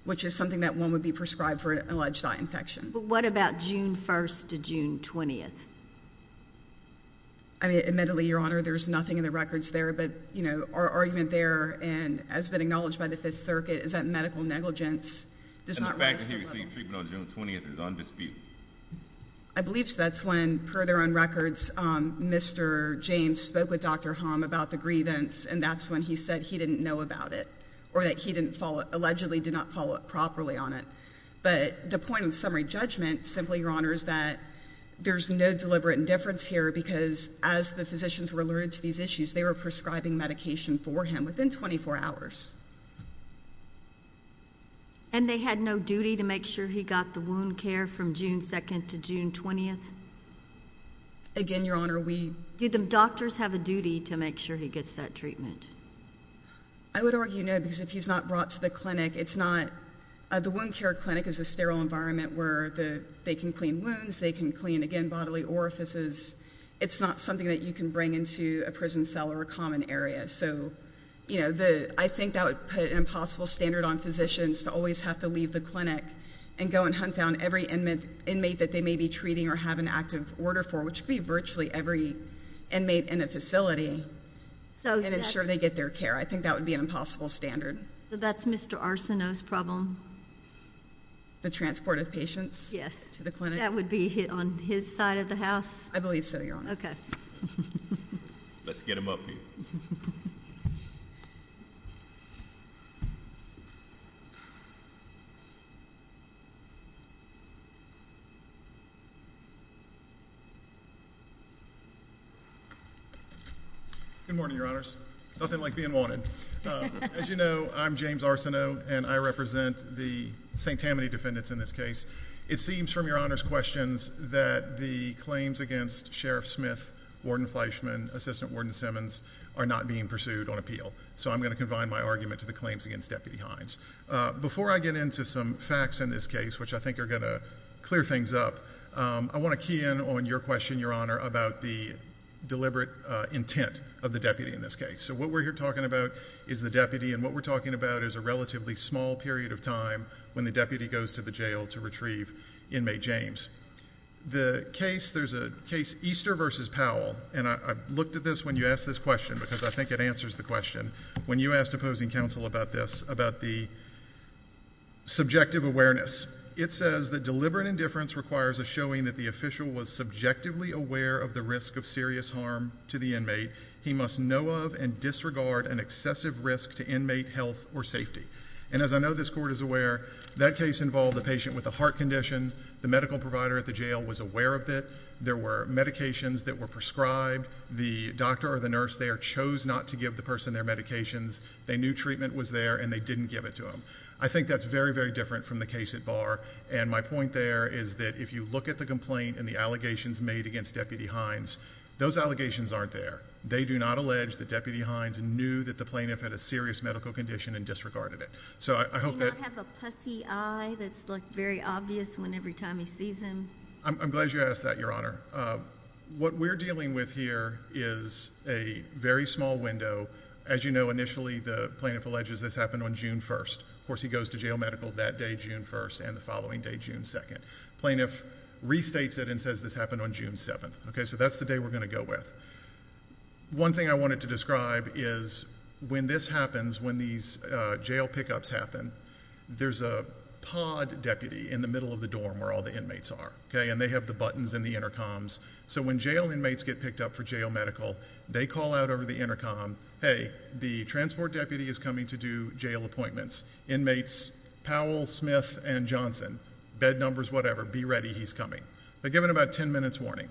which is something that one would be prescribed for an alleged eye infection. What about June 1st to June 20th? I mean, admittedly, Your Honor, there's nothing in the records there, but our argument there, and has been acknowledged by the Fifth Circuit, is that medical negligence does not rise to And the fact that he received treatment on June 20th is on dispute? I believe that's when, per their own records, Mr. James spoke with Dr. Hahn about the grievance, and that's when he said he didn't know about it, or that he allegedly did not follow up properly on it. But the point of summary judgment, simply, Your Honor, is that there's no deliberate indifference here, because as the physicians were alerted to these issues, they were prescribing medication for him within 24 hours. And they had no duty to make sure he got the wound care from June 2nd to June 20th? Again, Your Honor, we Did the doctors have a duty to make sure he gets that treatment? I would argue, no, because if he's not brought to the clinic, it's not The wound care clinic is a sterile environment where they can clean wounds, they can clean, again, bodily orifices. It's not something that you can bring into a prison cell or a common area. So I think that would put an impossible standard on physicians to always have to leave the clinic and go and hunt down every inmate that they may be treating or have an active order for, which would be virtually every inmate in a facility, and ensure they get their care. I think that would be an impossible standard. So that's Mr. Arsenault's problem? The transport of patients to the clinic? That would be on his side of the house? I believe so, Your Honor. Okay. Let's get him up here. Good morning, Your Honors. Nothing like being wanted. As you know, I'm James Arsenault, and I represent the St. Tammany defendants in this case. It seems from Your Honor's questions that the claims against Sheriff Smith, Warden Fleischman, Assistant Warden Simmons are not being pursued on appeal. So I'm going to confine my argument to the claims against Deputy Hines. Before I get into some facts in this case, which I think are going to clear things up, I want to key in on your question, Your Honor, about the deliberate intent of the deputy in this case. So what we're here talking about is the deputy, and what we're talking about is a relatively small period of time when the deputy goes to the jail to retrieve inmate James. There's a case, Easter v. Powell, and I looked at this when you asked this question, because I think it answers the question. When you asked opposing counsel about this, about the subjective awareness, it says that deliberate indifference requires a showing that the official was subjectively aware of the risk of serious harm to the inmate. He must know of and disregard an excessive risk to inmate health or safety. And as I know this Court is aware, that case involved a patient with a heart condition. The medical provider at the jail was aware of it. There were medications that were prescribed. The doctor or the nurse there chose not to give the person their medications. They knew treatment was there, and they didn't give it to him. I think that's very, very different from the case at Barr. And my point there is that if you look at the complaint and the allegations made against Deputy Hines, those allegations aren't there. They do not allege that Deputy Hines knew that the plaintiff had a serious medical condition and disregarded it. Do you not have a pussy eye that's very obvious every time he sees him? I'm glad you asked that, Your Honor. What we're dealing with here is a very small window. As you know, initially the plaintiff alleges this happened on June 1st. Of course, he goes to jail medical that day, June 1st, and the following day, June 2nd. The plaintiff restates it and says this happened on June 7th. So that's the day we're going to go with. One thing I wanted to describe is when this happens, when these jail pickups happen, there's a pod deputy in the middle of the dorm where all the inmates are, and they have the buttons and the intercoms. So when jail inmates get picked up for jail medical, they call out over the intercom, hey, the transport deputy is coming to do jail appointments. Inmates Powell, Smith, and Johnson, bed numbers, whatever, be ready, he's coming. They're given about ten minutes' warning.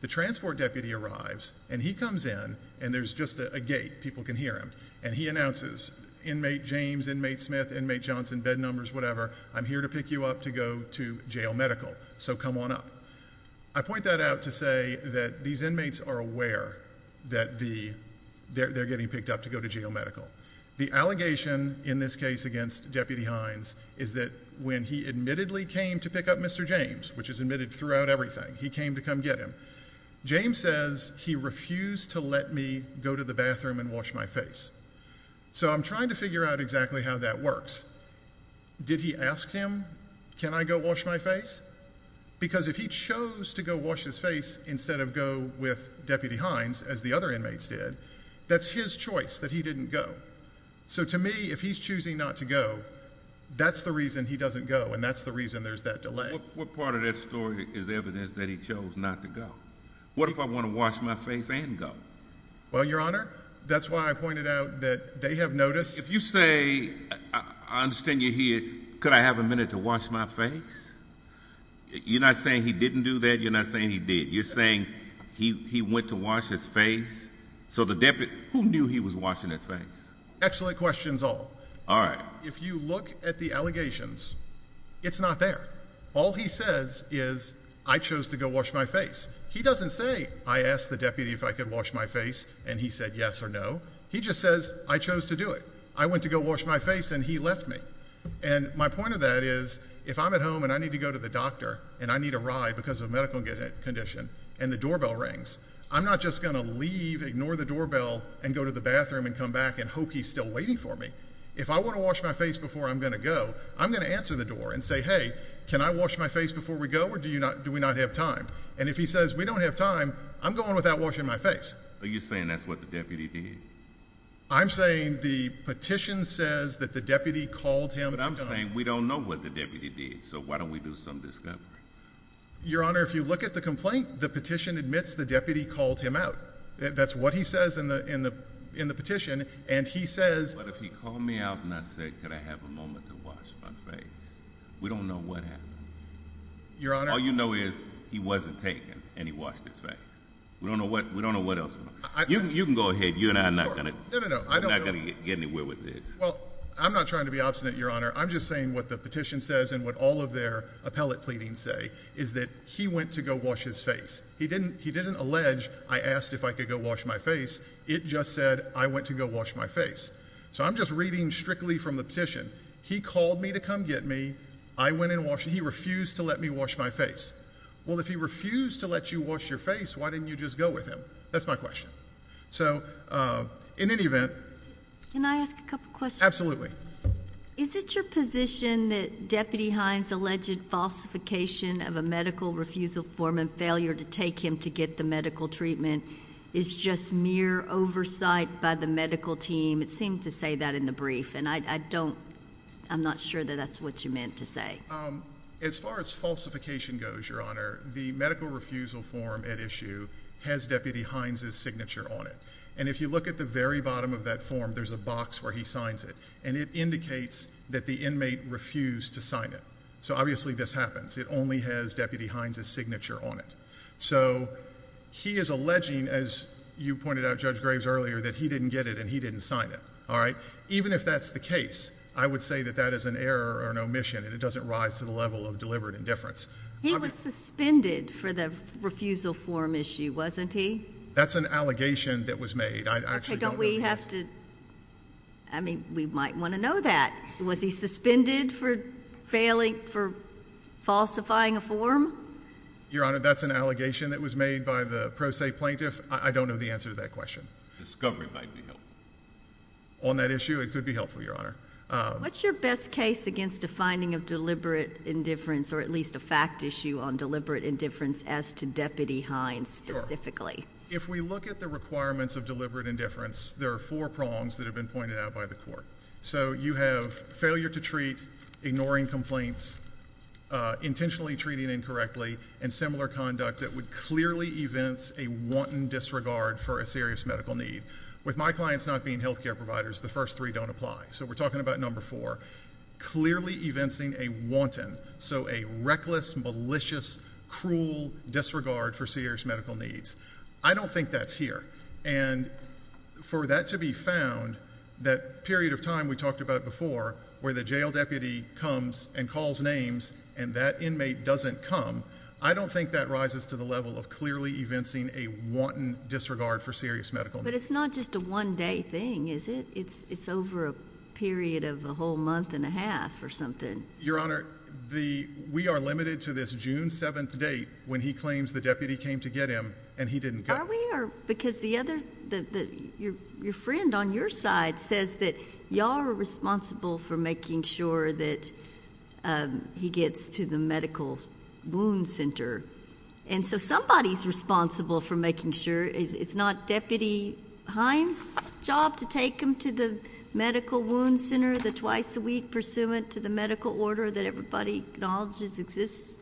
The transport deputy arrives, and he comes in, and there's just a gate, people can hear him, and he announces, inmate James, inmate Smith, inmate Johnson, bed numbers, whatever, I'm here to pick you up to go to jail medical, so come on up. I point that out to say that these inmates are aware that they're getting picked up to go to jail medical. The allegation in this case against Deputy Hines is that when he admittedly came to pick up Mr. James, which is admitted throughout everything, he came to come get him, James says he refused to let me go to the bathroom and wash my face. So I'm trying to figure out exactly how that works. Did he ask him, can I go wash my face? Because if he chose to go wash his face instead of go with Deputy Hines, as the other inmates did, that's his choice that he didn't go. So to me, if he's choosing not to go, that's the reason he doesn't go, and that's the reason there's that delay. What part of that story is evidence that he chose not to go? What if I want to wash my face and go? Well, Your Honor, that's why I pointed out that they have noticed. If you say, I understand you're here, could I have a minute to wash my face? You're not saying he didn't do that, you're not saying he did. You're saying he went to wash his face. So the deputy, who knew he was washing his face? Excellent questions all. All right. If you look at the allegations, it's not there. All he says is, I chose to go wash my face. He doesn't say, I asked the deputy if I could wash my face and he said yes or no. He just says, I chose to do it. I went to go wash my face and he left me. And my point of that is, if I'm at home and I need to go to the doctor and I need a ride because of a medical condition and the doorbell rings, I'm not just going to leave, ignore the doorbell, and go to the bathroom and come back and hope he's still waiting for me. If I want to wash my face before I'm going to go, I'm going to answer the door and say, hey, can I wash my face before we go or do we not have time? And if he says we don't have time, I'm going without washing my face. Are you saying that's what the deputy did? I'm saying the petition says that the deputy called him to come. But I'm saying we don't know what the deputy did, so why don't we do some discovery? Your Honor, if you look at the complaint, the petition admits the deputy called him out. That's what he says in the petition. But if he called me out and I said, can I have a moment to wash my face, we don't know what happened. All you know is he wasn't taken and he washed his face. We don't know what else happened. You can go ahead. You and I are not going to get anywhere with this. Well, I'm not trying to be obstinate, Your Honor. I'm just saying what the petition says and what all of their appellate pleadings say is that he went to go wash his face. He didn't allege I asked if I could go wash my face. It just said I went to go wash my face. So I'm just reading strictly from the petition. He called me to come get me. I went and washed. He refused to let me wash my face. Well, if he refused to let you wash your face, why didn't you just go with him? That's my question. So, in any event. Can I ask a couple questions? Is it your position that Deputy Hines' alleged falsification of a medical refusal form and failure to take him to get the medical treatment is just mere oversight by the medical team? It seemed to say that in the brief. And I'm not sure that that's what you meant to say. As far as falsification goes, Your Honor, the medical refusal form at issue has Deputy Hines' signature on it. And if you look at the very bottom of that form, there's a box where he signs it. And it indicates that the inmate refused to sign it. So obviously this happens. It only has Deputy Hines' signature on it. So he is alleging, as you pointed out, Judge Graves, earlier, that he didn't get it and he didn't sign it. All right? Even if that's the case, I would say that that is an error or an omission, and it doesn't rise to the level of deliberate indifference. He was suspended for the refusal form issue, wasn't he? That's an allegation that was made. I actually don't know the answer. I mean, we might want to know that. Was he suspended for falsifying a form? Your Honor, that's an allegation that was made by the pro se plaintiff. I don't know the answer to that question. Discovery might be helpful. On that issue, it could be helpful, Your Honor. What's your best case against a finding of deliberate indifference or at least a fact issue on deliberate indifference as to Deputy Hines specifically? If we look at the requirements of deliberate indifference, there are four prongs that have been pointed out by the court. So you have failure to treat, ignoring complaints, intentionally treating incorrectly, and similar conduct that would clearly evince a wanton disregard for a serious medical need. With my clients not being health care providers, the first three don't apply. So we're talking about number four, clearly evincing a wanton, so a reckless, malicious, cruel disregard for serious medical needs. I don't think that's here. And for that to be found, that period of time we talked about before where the jail deputy comes and calls names and that inmate doesn't come, I don't think that rises to the level of clearly evincing a wanton disregard for serious medical needs. But it's not just a one-day thing, is it? It's over a period of a whole month and a half or something. Your Honor, we are limited to this June 7th date when he claims the deputy came to get him and he didn't go. Are we? Because your friend on your side says that y'all are responsible for making sure that he gets to the medical wound center. And so somebody's responsible for making sure. It's not Deputy Hines' job to take him to the medical wound center the twice a week pursuant to the medical order that everybody acknowledges exists?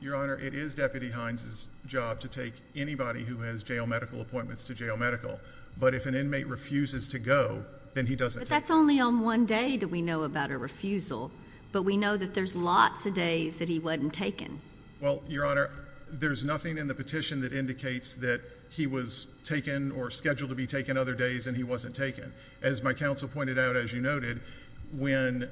Your Honor, it is Deputy Hines' job to take anybody who has jail medical appointments to jail medical. But if an inmate refuses to go, then he doesn't take them. But that's only on one day that we know about a refusal. But we know that there's lots of days that he wasn't taken. Well, Your Honor, there's nothing in the petition that indicates that he was taken or scheduled to be taken other days and he wasn't taken. As my counsel pointed out, as you noted, when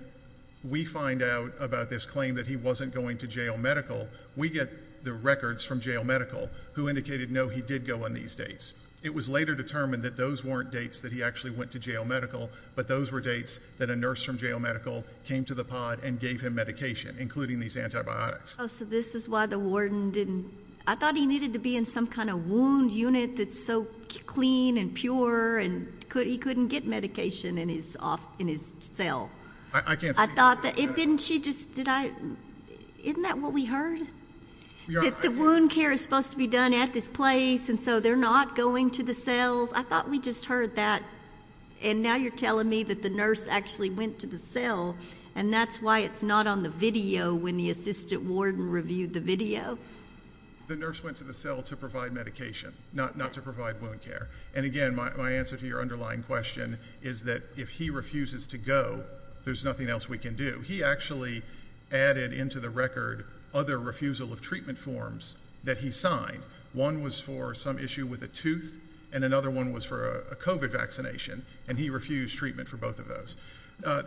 we find out about this claim that he wasn't going to jail medical, we get the records from jail medical who indicated, no, he did go on these dates. It was later determined that those weren't dates that he actually went to jail medical, but those were dates that a nurse from jail medical came to the pod and gave him medication, including these antibiotics. So this is why the warden didn't? I thought he needed to be in some kind of wound unit that's so clean and pure and he couldn't get medication in his cell. I can't speak to that. Isn't that what we heard? That the wound care is supposed to be done at this place and so they're not going to the cells? I thought we just heard that. And now you're telling me that the nurse actually went to the cell and that's why it's not on the video when the assistant warden reviewed the video? The nurse went to the cell to provide medication, not to provide wound care. And, again, my answer to your underlying question is that if he refuses to go, there's nothing else we can do. He actually added into the record other refusal of treatment forms that he signed. One was for some issue with a tooth and another one was for a COVID vaccination, and he refused treatment for both of those.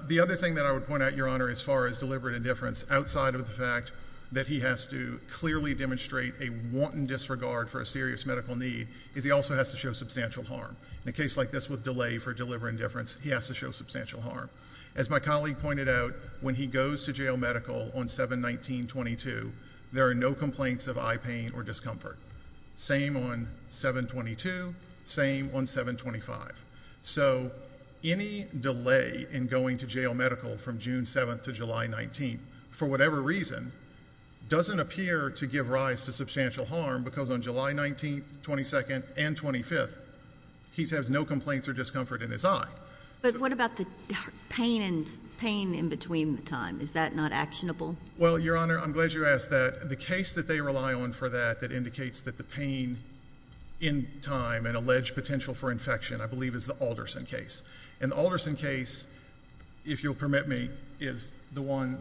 The other thing that I would point out, Your Honor, as far as deliberate indifference, outside of the fact that he has to clearly demonstrate a wanton disregard for a serious medical need, is he also has to show substantial harm. In a case like this with delay for deliberate indifference, he has to show substantial harm. As my colleague pointed out, when he goes to jail medical on 7-19-22, there are no complaints of eye pain or discomfort. Same on 7-22, same on 7-25. So any delay in going to jail medical from June 7th to July 19th, for whatever reason, doesn't appear to give rise to substantial harm because on July 19th, 22nd, and 25th, he has no complaints or discomfort in his eye. But what about the pain in between the time? Is that not actionable? Well, Your Honor, I'm glad you asked that. The case that they rely on for that that indicates that the pain in time and alleged potential for infection, I believe, is the Alderson case. And the Alderson case, if you'll permit me, is the one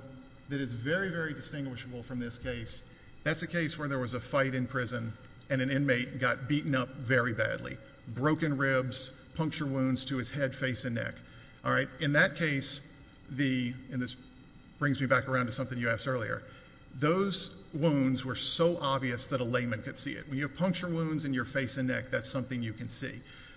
that is very, very distinguishable from this case. That's a case where there was a fight in prison and an inmate got beaten up very badly, broken ribs, punctured wounds to his head, face, and neck. In that case, and this brings me back around to something you asked earlier, those wounds were so obvious that a layman could see it. When you have punctured wounds in your face and neck, that's something you can see.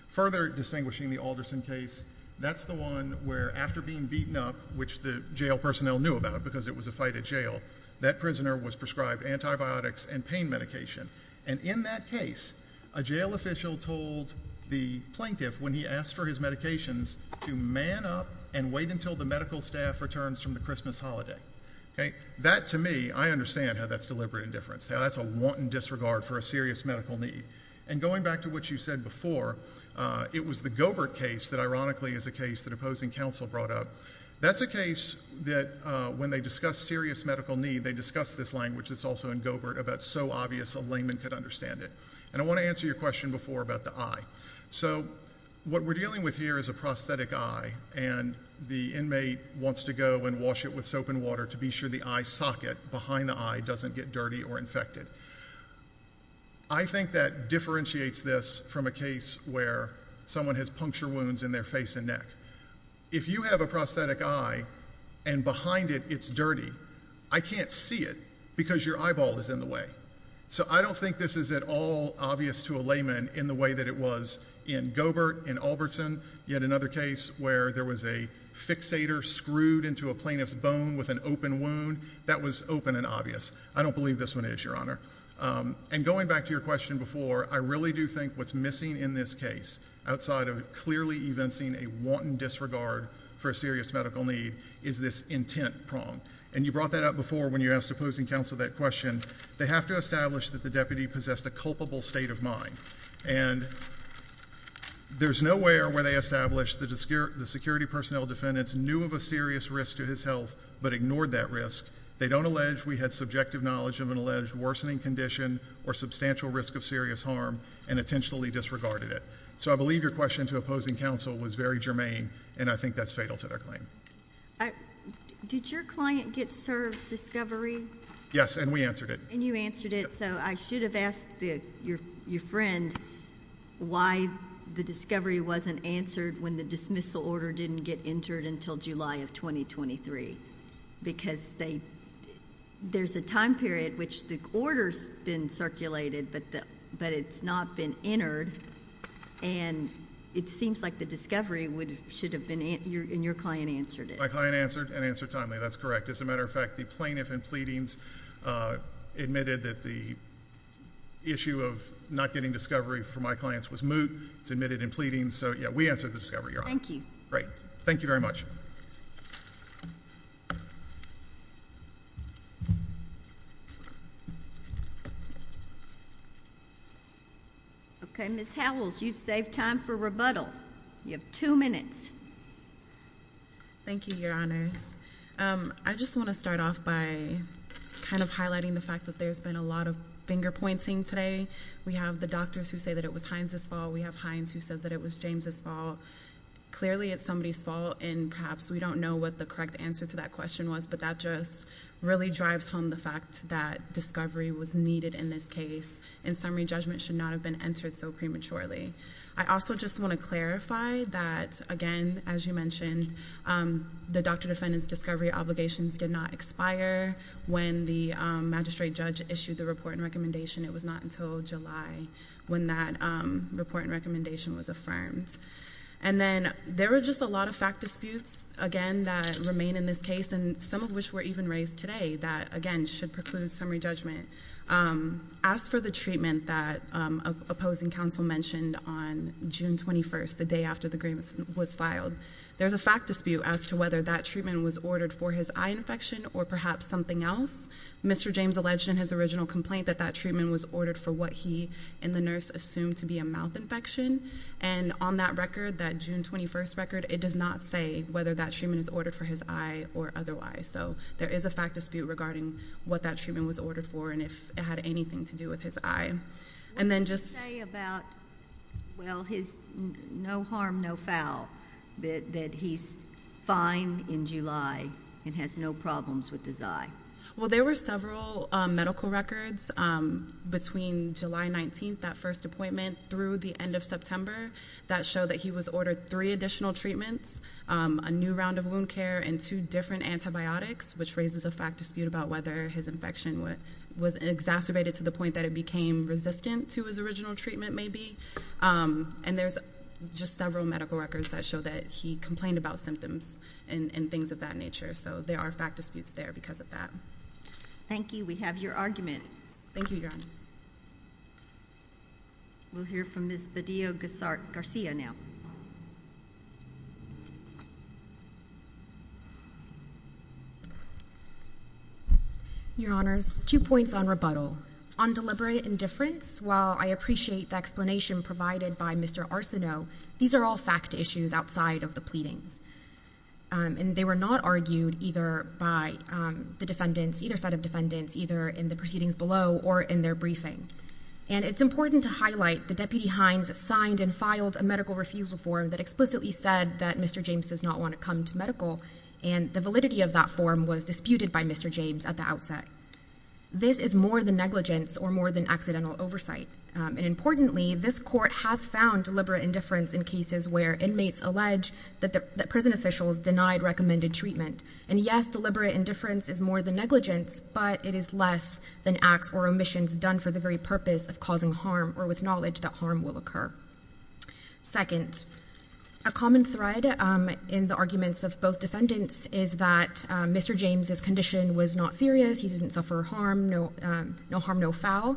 Further distinguishing the Alderson case, that's the one where after being beaten up, which the jail personnel knew about because it was a fight at jail, that prisoner was prescribed antibiotics and pain medication. And in that case, a jail official told the plaintiff when he asked for his medications to man up and wait until the medical staff returns from the Christmas holiday. That, to me, I understand how that's deliberate indifference. That's a wanton disregard for a serious medical need. And going back to what you said before, it was the Gobert case that ironically is a case that opposing counsel brought up. That's a case that when they discuss serious medical need, they discuss this language that's also in Gobert about so obvious a layman could understand it. And I want to answer your question before about the eye. So what we're dealing with here is a prosthetic eye, and the inmate wants to go and wash it with soap and water to be sure the eye socket behind the eye doesn't get dirty or infected. I think that differentiates this from a case where someone has puncture wounds in their face and neck. If you have a prosthetic eye and behind it it's dirty, I can't see it because your eyeball is in the way. So I don't think this is at all obvious to a layman in the way that it was in Gobert, in Albertson. You had another case where there was a fixator screwed into a plaintiff's bone with an open wound. That was open and obvious. I don't believe this one is, Your Honor. And going back to your question before, I really do think what's missing in this case, outside of clearly evincing a wanton disregard for a serious medical need, is this intent prong. And you brought that up before when you asked opposing counsel that question. They have to establish that the deputy possessed a culpable state of mind. And there's nowhere where they established the security personnel defendants knew of a serious risk to his health but ignored that risk. They don't allege we had subjective knowledge of an alleged worsening condition or substantial risk of serious harm and intentionally disregarded it. So I believe your question to opposing counsel was very germane, and I think that's fatal to their claim. Did your client get served discovery? Yes, and we answered it. And you answered it. So I should have asked your friend why the discovery wasn't answered when the dismissal order didn't get entered until July of 2023 because there's a time period which the order's been circulated but it's not been entered, and it seems like the discovery should have been in your client answered it. My client answered and answered timely. That's correct. As a matter of fact, the plaintiff in pleadings admitted that the issue of not getting discovery for my clients was moot. It's admitted in pleadings. So, yeah, we answered the discovery, Your Honor. Thank you. Great. Thank you very much. Okay, Ms. Howells, you've saved time for rebuttal. You have two minutes. Thank you, Your Honors. I just want to start off by kind of highlighting the fact that there's been a lot of finger-pointing today. We have the doctors who say that it was Hines' fault. We have Hines who says that it was James' fault. Clearly, it's somebody's fault, and perhaps we don't know what the correct answer to that question was, but that just really drives home the fact that discovery was needed in this case, and summary judgment should not have been entered so prematurely. I also just want to clarify that, again, as you mentioned, the doctor-defendant's discovery obligations did not expire when the magistrate judge issued the report and recommendation. It was not until July when that report and recommendation was affirmed. And then there were just a lot of fact disputes, again, that remain in this case, and some of which were even raised today that, again, should preclude summary judgment. As for the treatment that opposing counsel mentioned on June 21st, the day after the grievance was filed, there's a fact dispute as to whether that treatment was ordered for his eye infection or perhaps something else. Mr. James alleged in his original complaint that that treatment was ordered for what he and the nurse assumed to be a mouth infection, and on that record, that June 21st record, it does not say whether that treatment is ordered for his eye or otherwise. So there is a fact dispute regarding what that treatment was ordered for and if it had anything to do with his eye. What did he say about, well, his no harm, no foul, that he's fine in July and has no problems with his eye? Well, there were several medical records between July 19th, that first appointment, through the end of September, that show that he was ordered three additional treatments, a new round of wound care, and two different antibiotics, which raises a fact dispute about whether his infection was exacerbated to the point that it became resistant to his original treatment, maybe. And there's just several medical records that show that he complained about symptoms and things of that nature. So there are fact disputes there because of that. Thank you. We have your argument. Thank you, Your Honor. We'll hear from Ms. Badillo-Gazzart-Garcia now. Your Honors, two points on rebuttal. On deliberate indifference, while I appreciate the explanation provided by Mr. Arsenault, these are all fact issues outside of the pleadings, and they were not argued either by the defendants, either side of defendants, either in the proceedings below or in their briefing. And it's important to highlight that Deputy Hines signed and filed a medical refusal form that explicitly said that Mr. James does not want to come to medical, and the validity of that form was disputed by Mr. James at the outset. This is more than negligence or more than accidental oversight. And importantly, this court has found deliberate indifference in cases where inmates allege that prison officials denied recommended treatment. And yes, deliberate indifference is more than negligence, but it is less than acts or omissions done for the very purpose of causing harm or with knowledge that harm will occur. Second, a common thread in the arguments of both defendants is that Mr. James's condition was not serious. He didn't suffer harm, no harm, no foul.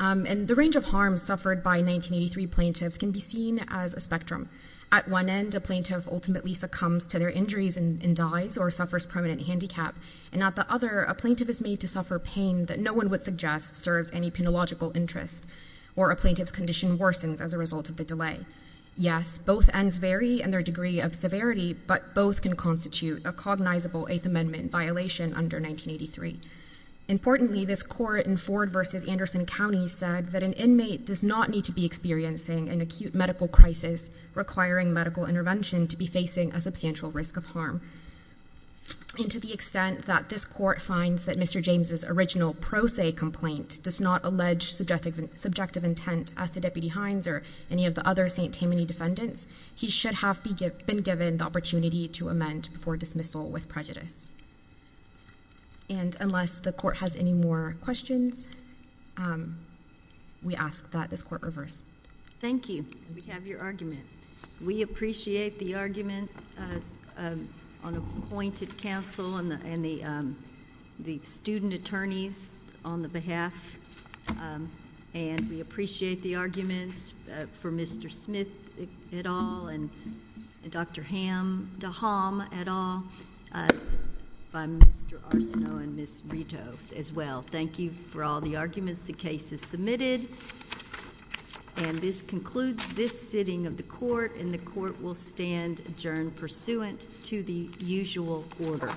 And the range of harm suffered by 1983 plaintiffs can be seen as a spectrum. At one end, a plaintiff ultimately succumbs to their injuries and dies or suffers permanent handicap, and at the other, a plaintiff is made to suffer pain that no one would suggest serves any penological interest, or a plaintiff's condition worsens as a result of the delay. Yes, both ends vary in their degree of severity, but both can constitute a cognizable Eighth Amendment violation under 1983. Importantly, this court in Ford v. Anderson County said that an inmate does not need to be experiencing an acute medical crisis requiring medical intervention to be facing a substantial risk of harm. And to the extent that this court finds that Mr. James's original pro se complaint does not allege subjective intent as to Deputy Hines or any of the other St. Tammany defendants, he should have been given the opportunity to amend for dismissal with prejudice. And unless the court has any more questions, we ask that this court reverse. Thank you. We have your argument. We appreciate the argument on appointed counsel and the student attorneys on the behalf, and we appreciate the arguments for Mr. Smith et al. and Dr. Ham deHalm et al. by Mr. Arsenault and Ms. Rito as well. Thank you for all the arguments. The case is submitted, and this concludes this sitting of the court, and the court will stand adjourned pursuant to the usual order. Thank you.